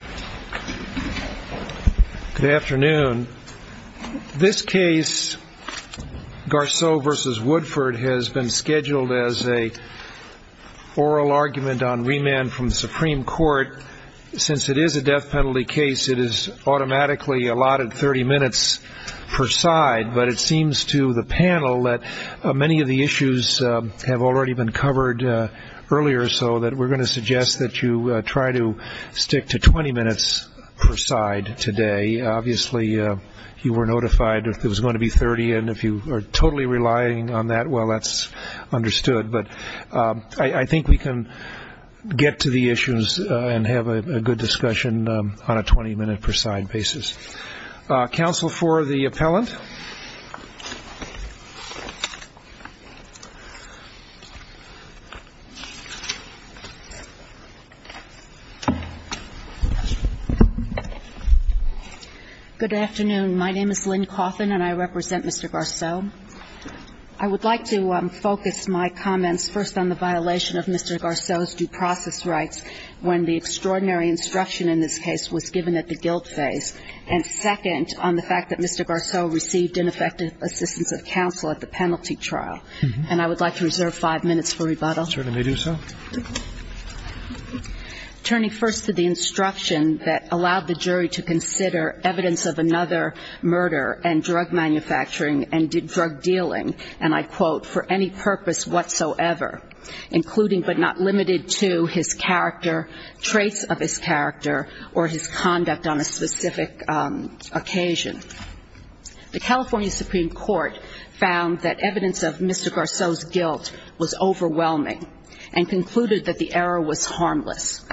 Good afternoon. This case, Garceau v. Woodford, has been scheduled as an oral argument on remand from the Supreme Court. Since it is a death penalty case, it is automatically allotted 30 minutes per side, but it seems to the panel that many of the issues have already been covered earlier, so we are going to suggest that you try to stick to 20 minutes per side today. Obviously, you were notified that it was going to be 30, and if you are totally relying on that, well, that's understood. But I think we can get to the issues and have a good discussion on a 20 minute per side basis. Counsel for the appellant. Good afternoon. My name is Lynn Cawthon, and I represent Mr. Garceau. I would like to focus my comments first on the violation of Mr. Garceau's due process rights when the extraordinary instruction in this case was given at the guilt phase, and second, on the fact that Mr. Garceau received ineffective assistance of counsel at the penalty trial. And I would like to reserve five minutes for rebuttal. Certainly do so. Turning first to the instruction that allowed the jury to consider evidence of another murder and drug manufacturing and drug dealing, and I quote, for any purpose whatsoever, including but not limited to his character, traits of his character, or his conduct on a specific occasion. The California Supreme Court found that evidence of Mr. Garceau's guilt was overwhelming and concluded that the error was harmless.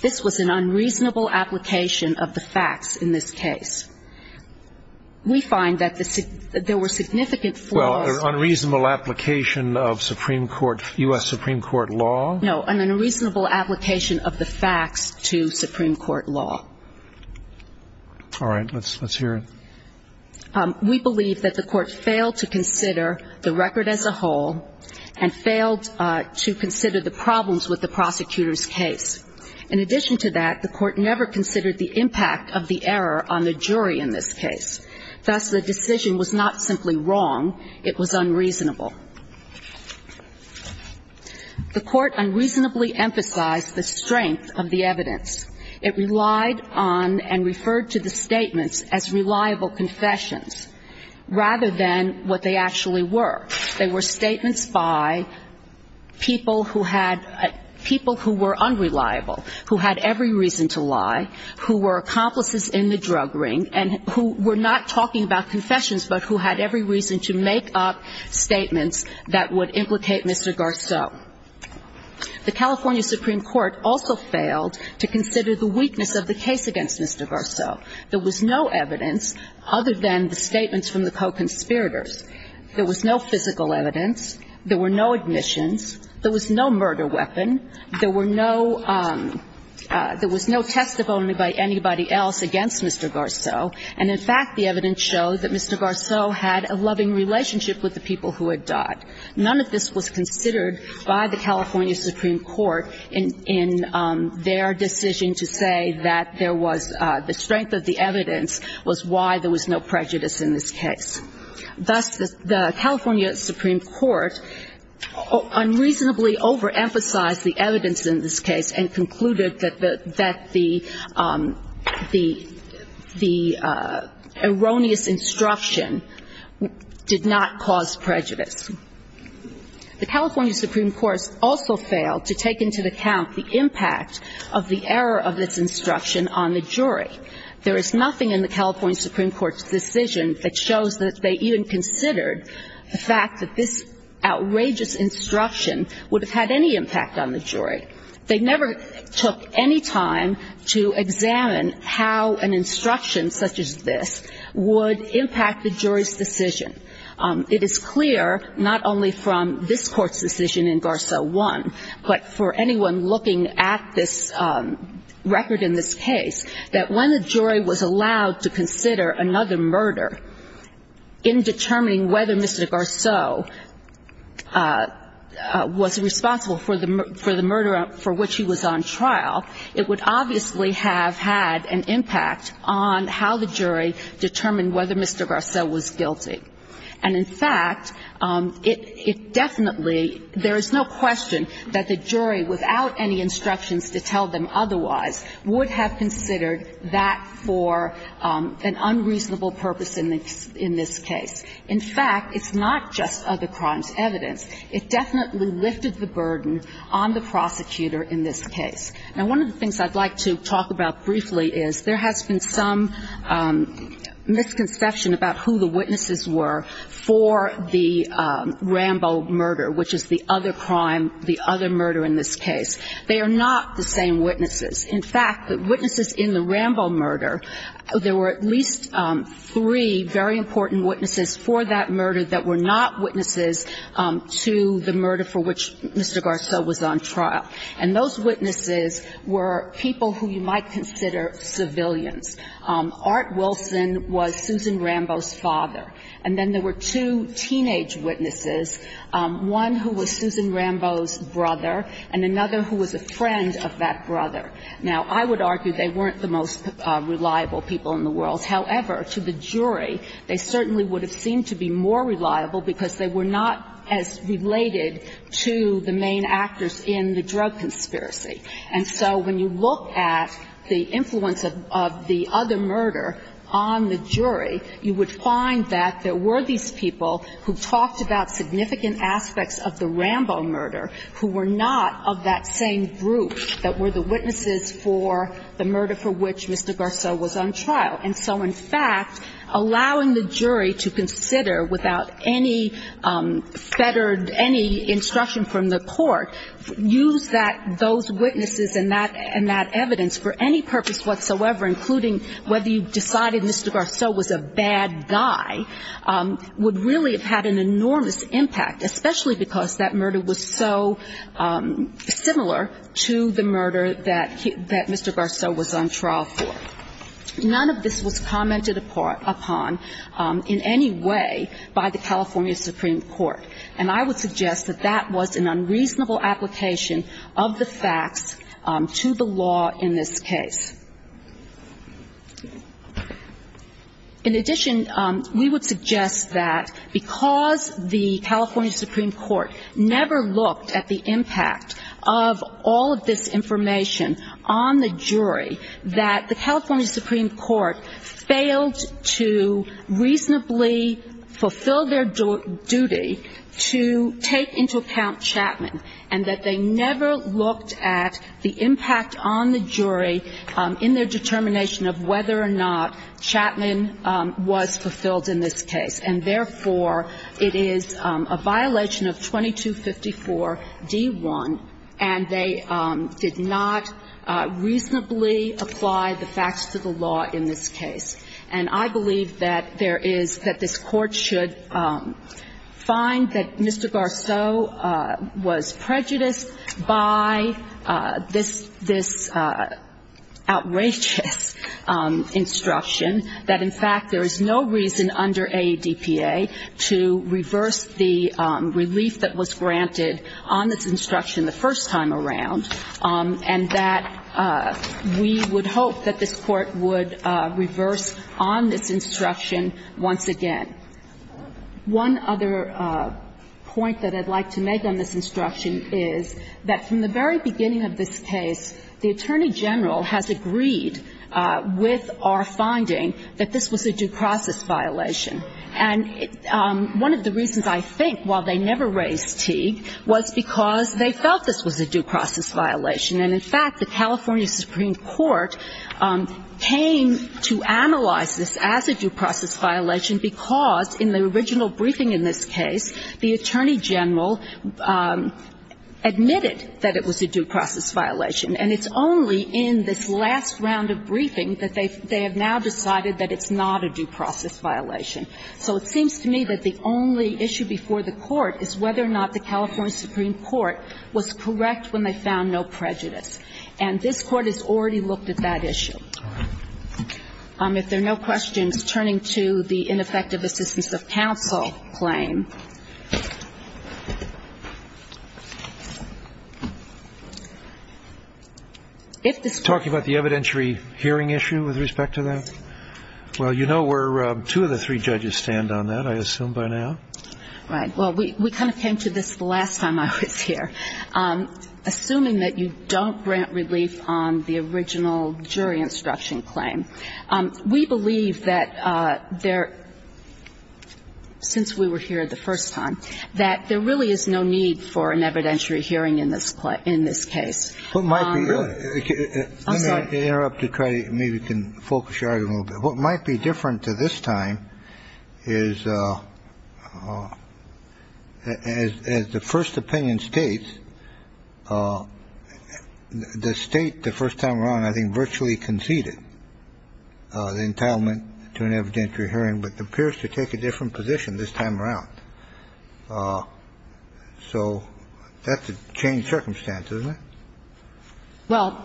This was an unreasonable application of the facts in this case. We find that there were significant flaws Unreasonable application of Supreme Court, U.S. Supreme Court law? No, an unreasonable application of the facts to Supreme Court law. All right. Let's hear it. We believe that the court failed to consider the record as a whole and failed to consider the problems with the prosecutor's case. In addition to that, the court never considered the impact of the error on the jury in this case. Thus, the decision was not simply wrong. It was unreasonable. The court unreasonably emphasized the strength of the evidence. It relied on and referred to the statements as reliable confessions, rather than what they actually were. They were statements by people who had, people who were unreliable, who had every reason to lie, who were accomplices in the drug ring, and who were not talking about confessions, but who had every reason to make up statements that would implicate Mr. Garceau. The California Supreme Court also failed to consider the weakness of the case against Mr. Garceau. There was no evidence other than the statements from the co-conspirators. There was no physical evidence. There were no admissions. There was no murder weapon. There were no, there was no testimony by anybody else against Mr. Garceau. And in fact, the evidence showed that Mr. Garceau had a loving relationship with the people who had died. None of this was considered by the California Supreme Court in their decision to say that there was, the strength of the evidence was why there was no prejudice in this case. Thus, the California Supreme Court unreasonably overemphasized the evidence in this case and concluded that the, that the, the erroneous instruction did not cause prejudice. The California Supreme Court also failed to take into account the impact of the error of its instruction on the jury. There is nothing in the California Supreme Court's decision that shows that they even considered the fact that this outrageous instruction would have had any impact on the jury. They never took any time to examine how an instruction such as this would impact the jury's decision. It is clear, not only from this Court's decision in Garceau 1, but for anyone looking at this record in this case, that when the jury was allowed to consider another murder in determining whether Mr. Garceau was responsible for the murder for which he was on trial, it would obviously have had an impact on how the jury determined whether Mr. Garceau was guilty. And in fact, it definitely, there is no question that the jury, without any instructions to tell them otherwise, would have considered that for an unreasonable purpose in this case. In fact, it's not just other crimes evidence. It definitely lifted the burden on the prosecutor in this case. Now, one of the things I'd like to talk about briefly is there has been some misconception about who the witnesses were for the Rambo murder, which is the other crime, the other murder in this case. They are not the same witnesses. In fact, the witnesses in the Rambo murder, there were at least three very important witnesses for that murder that were not witnesses to the murder for which Mr. Garceau was on trial. And those witnesses were people who you might consider civilians. Art Wilson was Susan Rambo's father. And then there were two teenage witnesses, one who was Susan Rambo's brother and another who was a friend of that brother. Now, I would argue they weren't the most reliable people in the world. However, to the jury, they certainly would have seemed to be more reliable because they were not as related to the main actors in the drug conspiracy. And so when you look at the influence of the other murder on the jury, you would find that there were these people who talked about significant aspects of the Rambo murder who were not of that same group that were the witnesses for the murder for which Mr. Garceau was on trial. And so, in fact, allowing the jury to consider without any fettered, any instruction from the court, use that, those witnesses and that evidence for any purpose whatsoever, including whether you decided Mr. Garceau was a bad guy, would really have had an enormous impact, especially because that murder was so similar to the murder that he was that Mr. Garceau was on trial for. None of this was commented upon in any way by the California Supreme Court. And I would suggest that that was an unreasonable application of the facts to the law in this case. In addition, we would suggest that because the California Supreme Court never looked at the impact of all of this information on the jury, that the California Supreme Court failed to reasonably fulfill their duty to take into account Chapman, and that they never looked at the impact on the jury in their determination of whether or not Chapman was fulfilled in this case. And therefore, it is a violation of 2254-D1, and they did not reasonably apply the facts to the law in this case. And I believe that there is, that this Court should find that Mr. Garceau was prejudiced by this outrageous instruction, that, in fact, there is no reason under AEDPA to reverse the relief that was granted on this instruction the first time around, and that we would hope that this Court would reverse on this instruction once again. One other point that I'd like to make on this instruction is that from the very beginning of this case, the Attorney General has agreed with our finding that this was a due process violation. And one of the reasons I think, while they never raised T, was because they felt this was a due process violation. And in fact, the California Supreme Court came to analyze this as a due process violation, because in the original briefing in this case, the Attorney General admitted that it was a due process violation. And it's only in this last round of briefing that they have now decided that it's not a due process violation. So it seems to me that the only issue before the Court is whether or not the California Supreme Court was correct when they found no prejudice. And this Court has already looked at that issue. If there are no questions, turning to the ineffective assistance of counsel claim. Talking about the evidentiary hearing issue with respect to that? Well, you know where two of the three judges stand on that, I assume, by now. Right. Well, we kind of came to this the last time I was here. Assuming that you don't grant relief on the original jury instruction claim. We believe that there really is no need for an evidentiary hearing in this case. Let me interrupt to try to maybe focus your argument a little bit. What might be different to this time is, as the first opinion states, the State, the first time around, I think, virtually conceded the entitlement to an evidentiary hearing. But it appears to take a different position this time around. So that's a changed circumstance, isn't it? Well,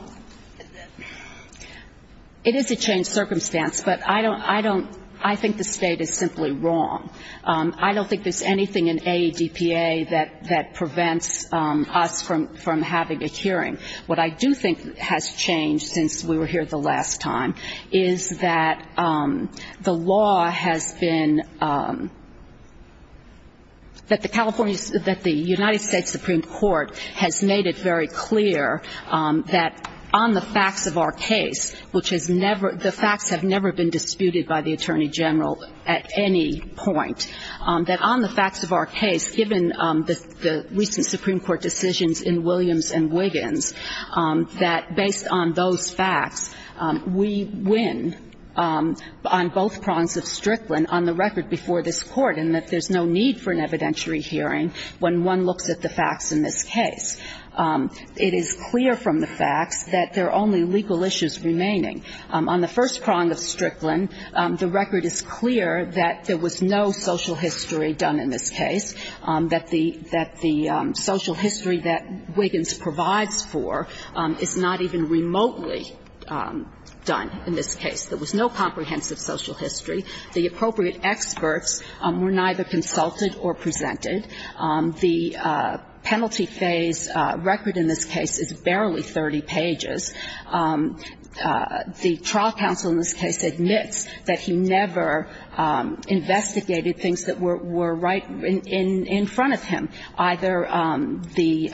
it is a changed circumstance. But I don't, I think the State is simply wrong. I don't think there's anything in AEDPA that prevents us from having a hearing. What I do think has changed since we were here the last time is that the law has been, that the California, that the United States Supreme Court has made it very clear that on the facts of our case, which has never, the facts have never been disputed by the Attorney General at any point, that on the facts of our case, given the recent Supreme Court decisions in Williams and Wiggins, that based on those facts, we win on both prongs of Strickland on the record before this Court, and that there's no need for an evidentiary hearing when one looks at the facts in this case. It is clear from the facts that there are only legal issues remaining. On the first prong of Strickland, the record is clear that there was no social history done in this case, that the social history that Wiggins provides for is not even remotely done in this case. There was no comprehensive social history. The appropriate experts were neither consulted or presented. The penalty phase record in this case is barely 30 pages. The trial counsel in this case admits that he never investigated things that were right in front of him, either the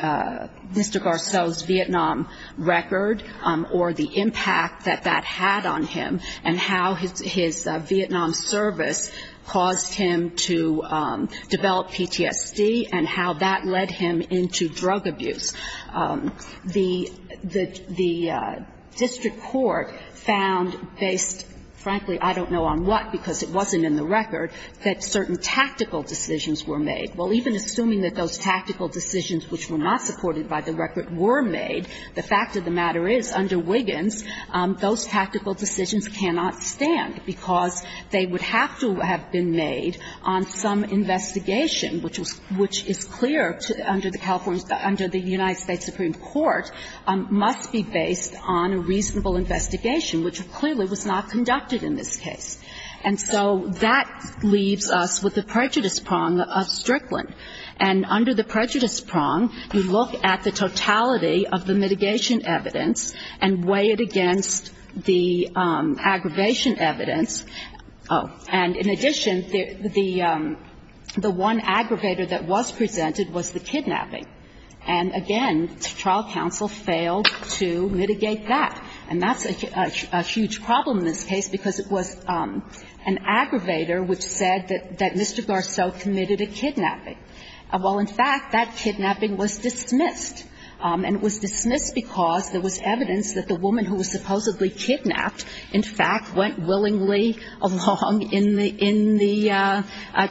Mr. Garceau's Vietnam record or the impact that that had on him, and how his Vietnam service caused him to develop PTSD and how that led him into drug abuse. The district court found based, frankly, I don't know on what, because it wasn't in the record, that certain tactical decisions were made. Well, even assuming that those tactical decisions, which were not supported by the record, were made, the fact of the matter is, under Wiggins, those tactical decisions cannot stand, because they would have to have been made on some investigation, which is clear under the United States Supreme Court, must be based on a reasonable investigation, which clearly was not conducted in this case. And so that leaves us with the prejudice prong of Strickland. And under the prejudice prong, you look at the totality of the mitigation evidence and weigh it against the aggravation evidence. And in addition, the one aggravator that was presented was the kidnapping. And again, the trial counsel failed to mitigate that. And that's a huge problem in this case, because it was an aggravator which said that Mr. Garceau committed a kidnapping. Well, in fact, that kidnapping was dismissed. And it was dismissed because there was evidence that the woman who was supposedly kidnapped, in fact, went willingly along in the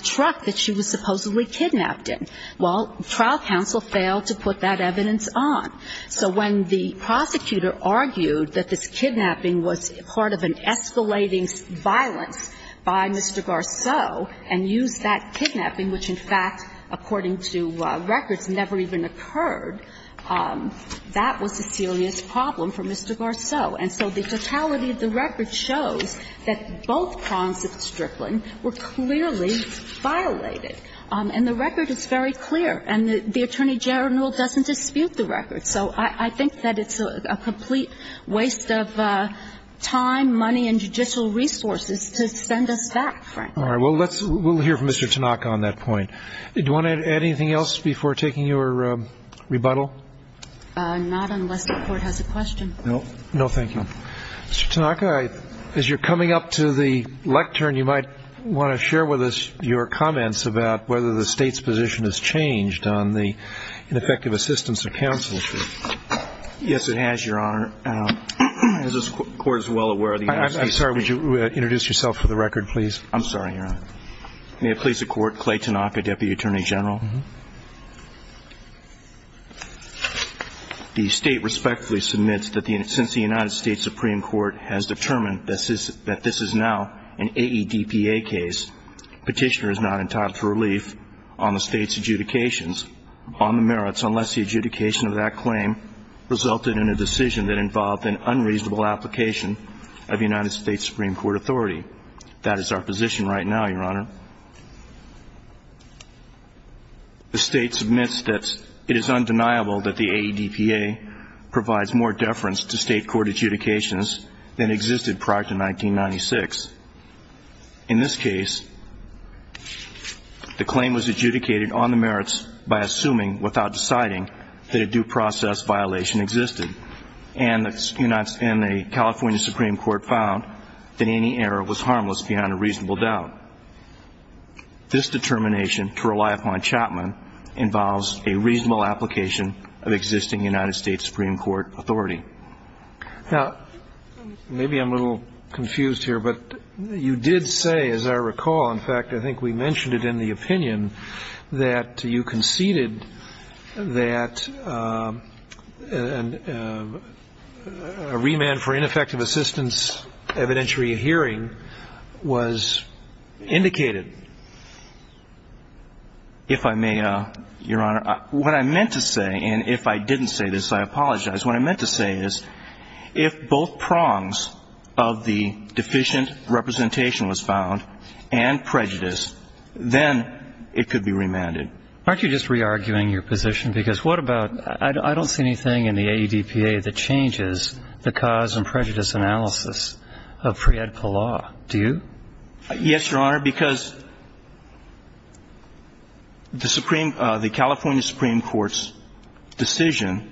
truck that she was supposedly kidnapped in. Well, trial counsel failed to put that evidence on. So when the prosecutor argued that this kidnapping was part of an escalating violence by Mr. Garceau and used that kidnapping, which, in fact, according to records, never even occurred, that was a serious problem for Mr. Garceau. And so the totality of the record shows that both prongs of Strickland were clearly violated. And the record is very clear. And the Attorney General doesn't dispute the record. So I think that it's a complete waste of time, money, and judicial resources to send us back, frankly. All right. Well, let's hear from Mr. Tanaka on that point. Do you want to add anything else before taking your rebuttal? Not unless the Court has a question. No. No, thank you. Mr. Tanaka, as you're coming up to the lectern, you might want to share with us your comments about whether the State's position has changed on the ineffective assistance of counsel. Yes, it has, Your Honor. As this Court is well aware, the United States Supreme Court has determined that this is now an AEDPA case. Petitioner is not entitled Supreme Court jurisdiction. I'm sorry, would you introduce yourself for the record, please? I'm sorry, Your Honor. May it please the Court, Clay Tanaka, Deputy Attorney General. The State respectfully submits that since the United States Supreme Court has determined that this is now an AEDPA case, Petitioner is not entitled for relief on the State's adjudications on the merits, unless the adjudication of that claim resulted in a decision that involved an unreasonable application of the United States Supreme Court authority. That is our position right now, Your Honor. The State submits that it is undeniable that the AEDPA provides more deference to State court adjudications than existed prior to 1996. In this case, the claim was adjudicated on the merits by assuming, without deciding, that a due process violation existed. And the California Supreme Court found that any error was harmless beyond a reasonable doubt. This determination to rely upon Chapman involves a reasonable application of existing United States Supreme Court authority. Now, maybe I'm a little confused here, but you did say, as I recall, in fact, I think we mentioned it in the opinion, that you conceded that, as I recall, the Supreme Court found that a remand for ineffective assistance evidentiary hearing was indicated. If I may, Your Honor, what I meant to say, and if I didn't say this, I apologize. What I meant to say is, if both prongs of the deficient representation was found and prejudice, then it could be remanded. Aren't you just rearguing your position? Because what about, I don't see anything in the AEDPA that changes the cause and prejudice analysis of pre-EDPA law. Do you? Yes, Your Honor, because the California Supreme Court's decision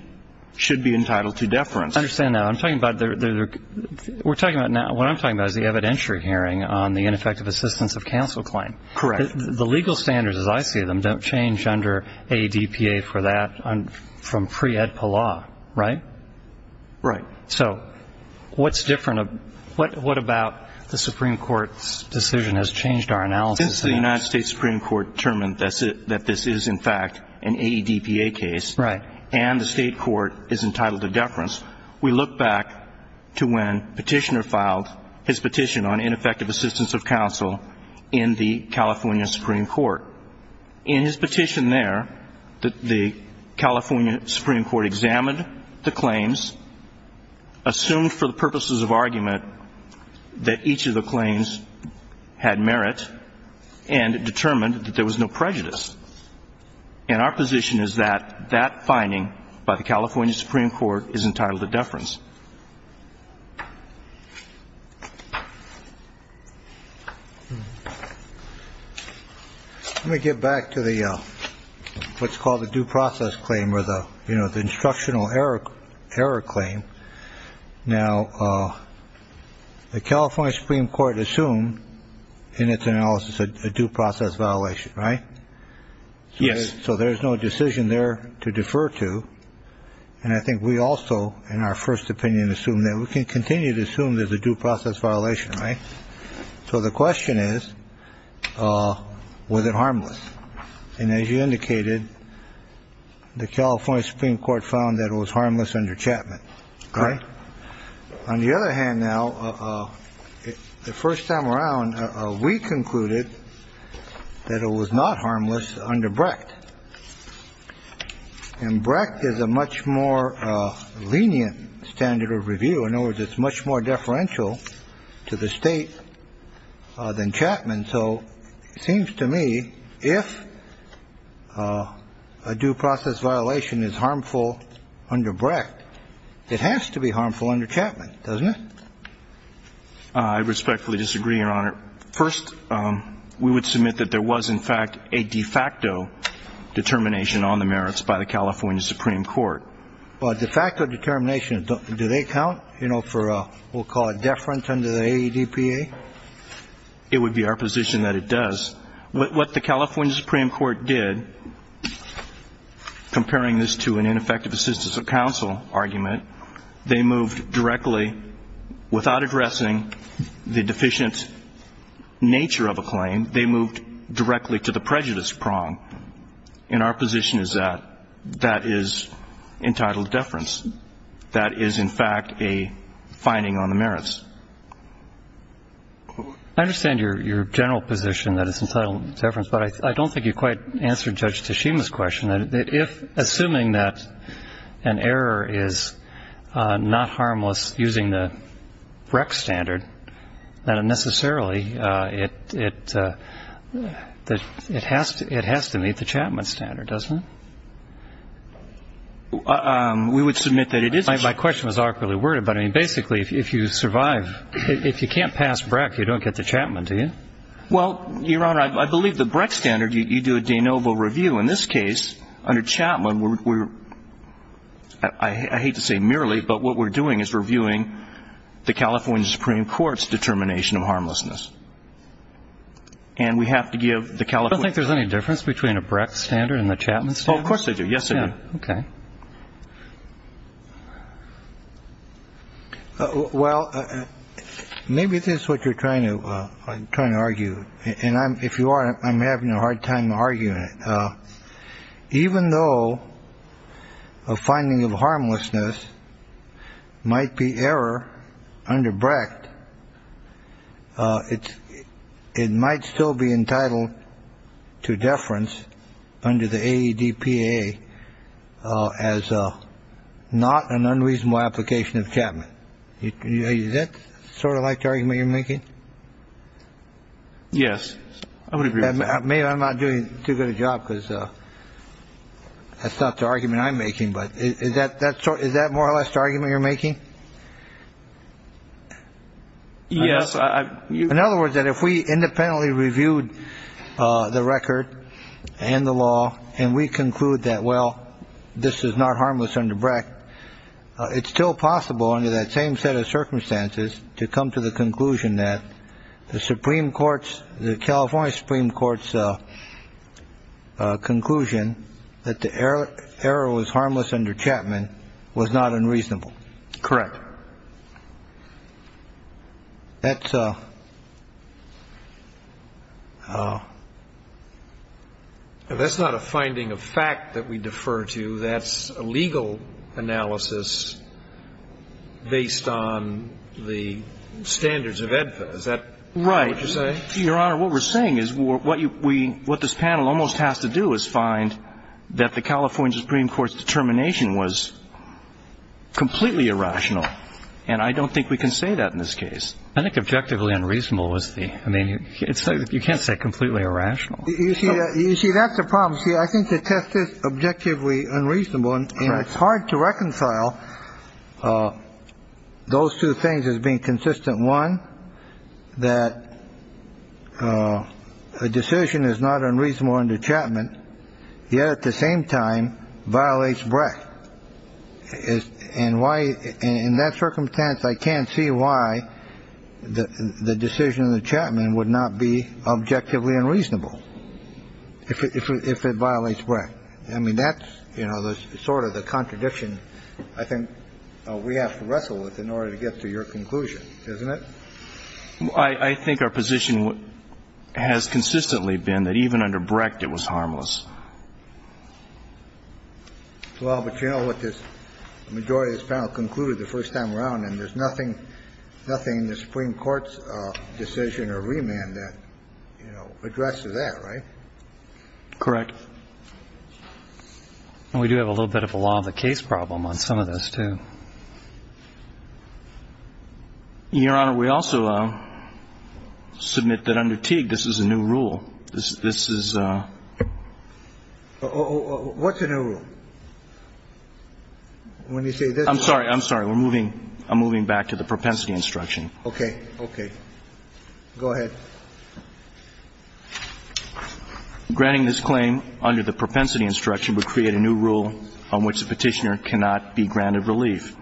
should be entitled to deference. I understand now. I'm talking about, we're talking about now, what I'm talking about is the evidentiary hearing on the ineffective assistance of counsel claim. Correct. The legal standards, as I see them, don't change under AEDPA for that from pre-EDPA law, right? Right. So what's different, what about the Supreme Court's decision has changed our analysis? Since the United States Supreme Court determined that this is, in fact, an AEDPA case, and the state court is entitled to deference, we look back to when Petitioner filed his petition on ineffective assistance of counsel in the California Supreme Court. However, in his petition there, the California Supreme Court examined the claims, assumed for the purposes of argument that each of the claims had merit, and determined that there was no prejudice. And our position is that that finding by the California Supreme Court is entitled to deference. Let me get back to the what's called the due process claim or the instructional error claim. Now, the California Supreme Court assumed in its analysis a due process violation, right? Yes. So there's no decision there to defer to. And I think we also, in our first opinion, assume that we can continue to assume there's a due process violation, right? So the question is, was it harmless? And as you indicated, the California Supreme Court found that it was harmless under Chapman, right? On the other hand, now, the first time around, we concluded that it was not harmless under Brecht. And Brecht is a much more lenient standard of review. In other words, it's much more deferential to the state than Chapman. So it seems to me, if a due process violation is harmful under Brecht, it has to be harmful under Chapman, doesn't it? I respectfully disagree, Your Honor. First, we would submit that there was, in fact, a de facto determination on the merits by the California Supreme Court. But de facto determination, do they count, you know, for what we'll call a deference under the AEDPA? It would be our position that it does. What the California Supreme Court did, comparing this to an ineffective assistance of counsel argument, they moved directly, without addressing the deficient nature of a claim, they moved directly to the prejudice prong. And our position is that that is entitled deference. That is, in fact, a finding on the merits. I understand your general position that it's entitled deference, but I don't think you quite answered Judge Teshima's question. If, assuming that an error is not harmless using the Brecht standard, then necessarily it has to meet the Chapman standard, doesn't it? We would submit that it is. My question was awkwardly worded, but basically, if you survive, if you can't pass Brecht, you don't get the Chapman, do you? Well, Your Honor, I believe the Brecht standard, you do a de novo review. In this case, under Chapman, I hate to say merely, but what we're doing is reviewing the California Supreme Court's determination of harmlessness. And we have to give the California... I don't think there's any difference between a Brecht standard and the Chapman standard. Oh, of course they do. Yes, they do. Okay. Well, maybe this is what you're trying to argue. And if you are, I'm having a hard time arguing it. Even though a finding of harmlessness might be error under Brecht, it might still be entitled to deference under the ADPA as not an unreasonable application of Chapman. Is that sort of like the argument you're making? Yes. I would agree with that. Maybe I'm not doing too good a job because that's not the argument I'm making. But is that more or less the argument you're making? Yes. In other words, that if we independently reviewed the record and the law and we conclude that, well, this is not harmless under Brecht, it's still possible under that same set of circumstances to come to the conclusion that the California Supreme Court's conclusion that the error was harmless under Chapman was not unreasonable. Correct. That's not a finding of fact that we defer to. That's a legal analysis based on the standards of ADPA. Is that what you're saying? Right. Your Honor, what we're saying is what this panel almost has to do is find that the California Supreme Court's conclusion that the error was harmless under Chapman is not a finding of fact that the error was harmless under Chapman is completely irrational. And I don't think we can say that in this case. I think objectively unreasonable was the I mean, it's you can't say completely irrational. You see, you see, that's a problem. See, I think the test is objectively unreasonable. And it's hard to reconcile those two things as being consistent. One, that a decision is not unreasonable under Chapman, yet at the same time violates Brecht. And why in that circumstance, I can't see why the decision in the Chapman would not be objectively unreasonable if it violates Brecht. I mean, that's, you know, sort of the contradiction I think we have to wrestle with in order to get to your conclusion, isn't it? I think our position has consistently been that even under Brecht it was harmless. Well, but you know what this majority of this panel concluded the first time around, and there's nothing in the Supreme Court's decision And I don't see a problem with changing or remand that, you know, address to that, right? Correct. And we do have a little bit of a law of the case problem on some of those too. Your Honor, we also submit that under Teague, this is a new rule. This is a. What's a new rule? When you say this. I'm sorry. I'm sorry. We're moving. I'm moving back to the propensity instruction. Okay. Okay. Go ahead. Granting this claim under the propensity instruction would create a new rule on which the petitioner cannot be granted relief.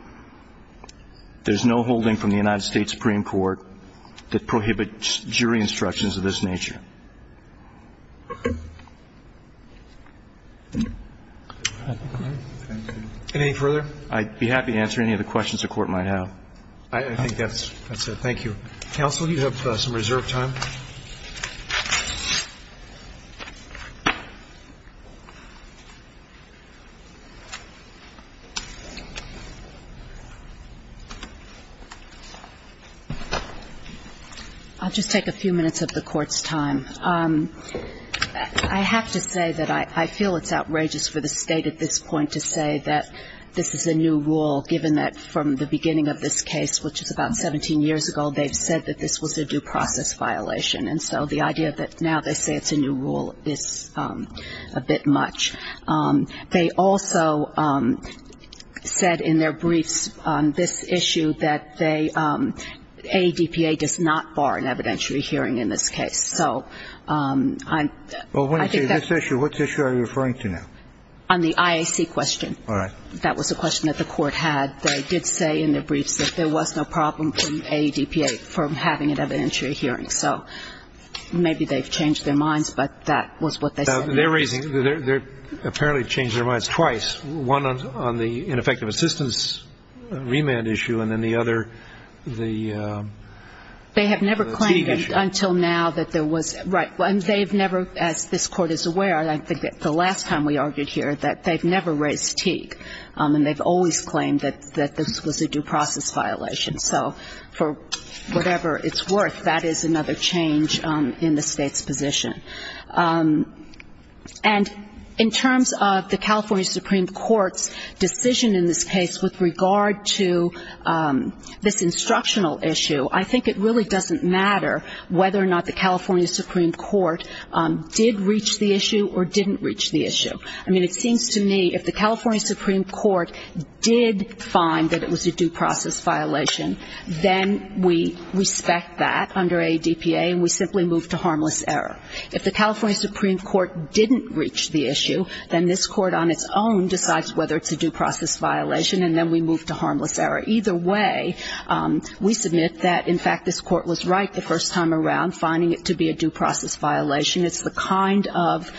There's no holding from the United States Supreme Court that prohibits jury instructions of this nature. All right. Thank you. Any further? I'd be happy to answer any other questions the Court might have. I think that's it. Thank you. Counsel, you have some reserve time. I'll just take a few minutes of the Court's time. I have to say that I feel it's outrageous for the State at this point to say that this is a new rule, given that from the beginning of this case, which is about 17 years ago, they've said that this was a due process violation. And so the idea that now they say it's a new rule is a bit much. They also said in their briefs on this issue that they ADPA does not bar an evidentiary hearing in this case. Well, when I say this issue, what issue are you referring to now? On the IAC question. All right. That was a question that the Court had. They did say in their briefs that there was no problem from ADPA from having an evidentiary hearing. So maybe they've changed their minds, but that was what they said. They're raising their ‑‑ apparently changed their minds twice, one on the ineffective assistance remand issue and then the other the ‑‑ They have never claimed until now that there was ‑‑ right. And they've never, as this Court is aware, I think the last time we argued here, that they've never raised Teague. And they've always claimed that this was a due process violation. So for whatever it's worth, that is another change in the State's position. And in terms of the California Supreme Court's decision in this case with regard to this instructional issue, I think it really doesn't matter whether or not the California Supreme Court did reach the issue or didn't reach the issue. I mean, it seems to me if the California Supreme Court did find that it was a due process violation, then we respect that under ADPA and we simply move to harmless error. If the California Supreme Court didn't reach the issue, then this Court on its own decides whether it's a due process violation and then we move to harmless error. Either way, we submit that, in fact, this Court was right the first time around finding it to be a due process violation. It's the kind of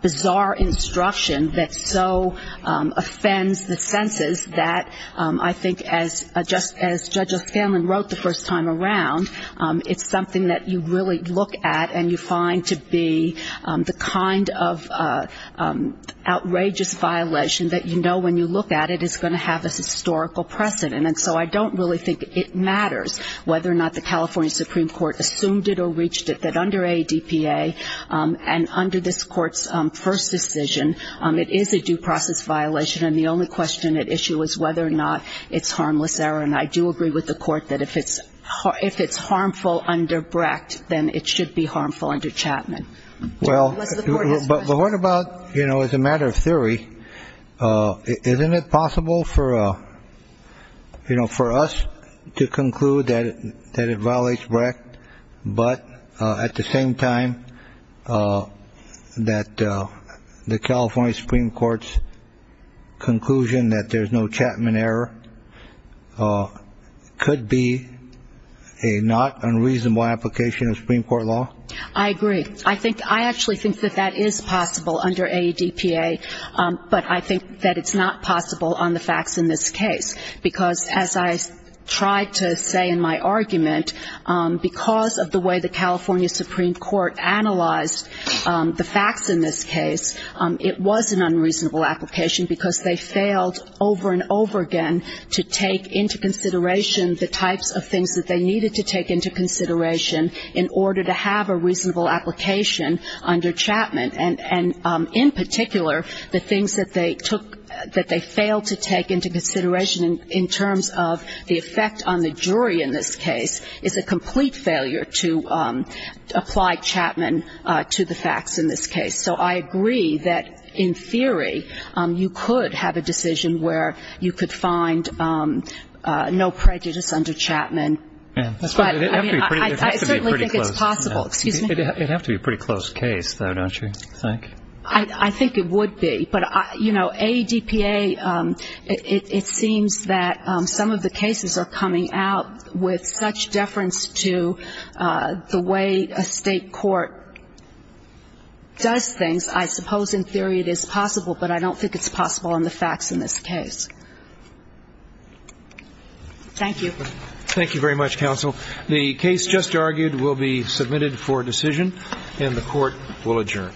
bizarre instruction that so offends the senses that I think as Judge O'Scanlan wrote the first time around, it's something that you really look at and you find to be the kind of outrageous violation that you know when you look at it is going to have a historical precedent. And so I don't really think it matters whether or not the California Supreme Court assumed it or reached it, that under ADPA and under this Court's first decision it is a due process violation and the only question at issue is whether or not it's harmless error. And I do agree with the Court that if it's harmful under Brecht, then it should be harmful under Chapman. Well, but what about, you know, as a matter of theory, isn't it possible for us to conclude that it violates Brecht, but at the same time that the California Supreme Court's conclusion that there's no Chapman error could be a not unreasonable application of Supreme Court law? I agree. I actually think that that is possible under ADPA, but I think that it's not possible on the facts in this case, because as I tried to say in my argument, because of the way the California Supreme Court analyzed the facts in this case, it was an unreasonable application because they failed over and over again to take into consideration the types of things that they needed to take into consideration in order to have a reasonable application under Chapman. And in particular, the things that they took, that they failed to take into consideration in terms of the effect on the jury in this case is a complete failure to apply Chapman to the facts in this case. So I agree that in theory you could have a decision where you could find no prejudice under Chapman. But I mean, I certainly think it's possible. It'd have to be a pretty close case, though, don't you think? I think it would be. But, you know, ADPA, it seems that some of the cases are coming out with such deference to the way a state court does things. I suppose in theory it is possible, but I don't think it's possible on the facts in this case. Thank you. Thank you very much, counsel. The case just argued will be submitted for decision, and the Court will adjourn.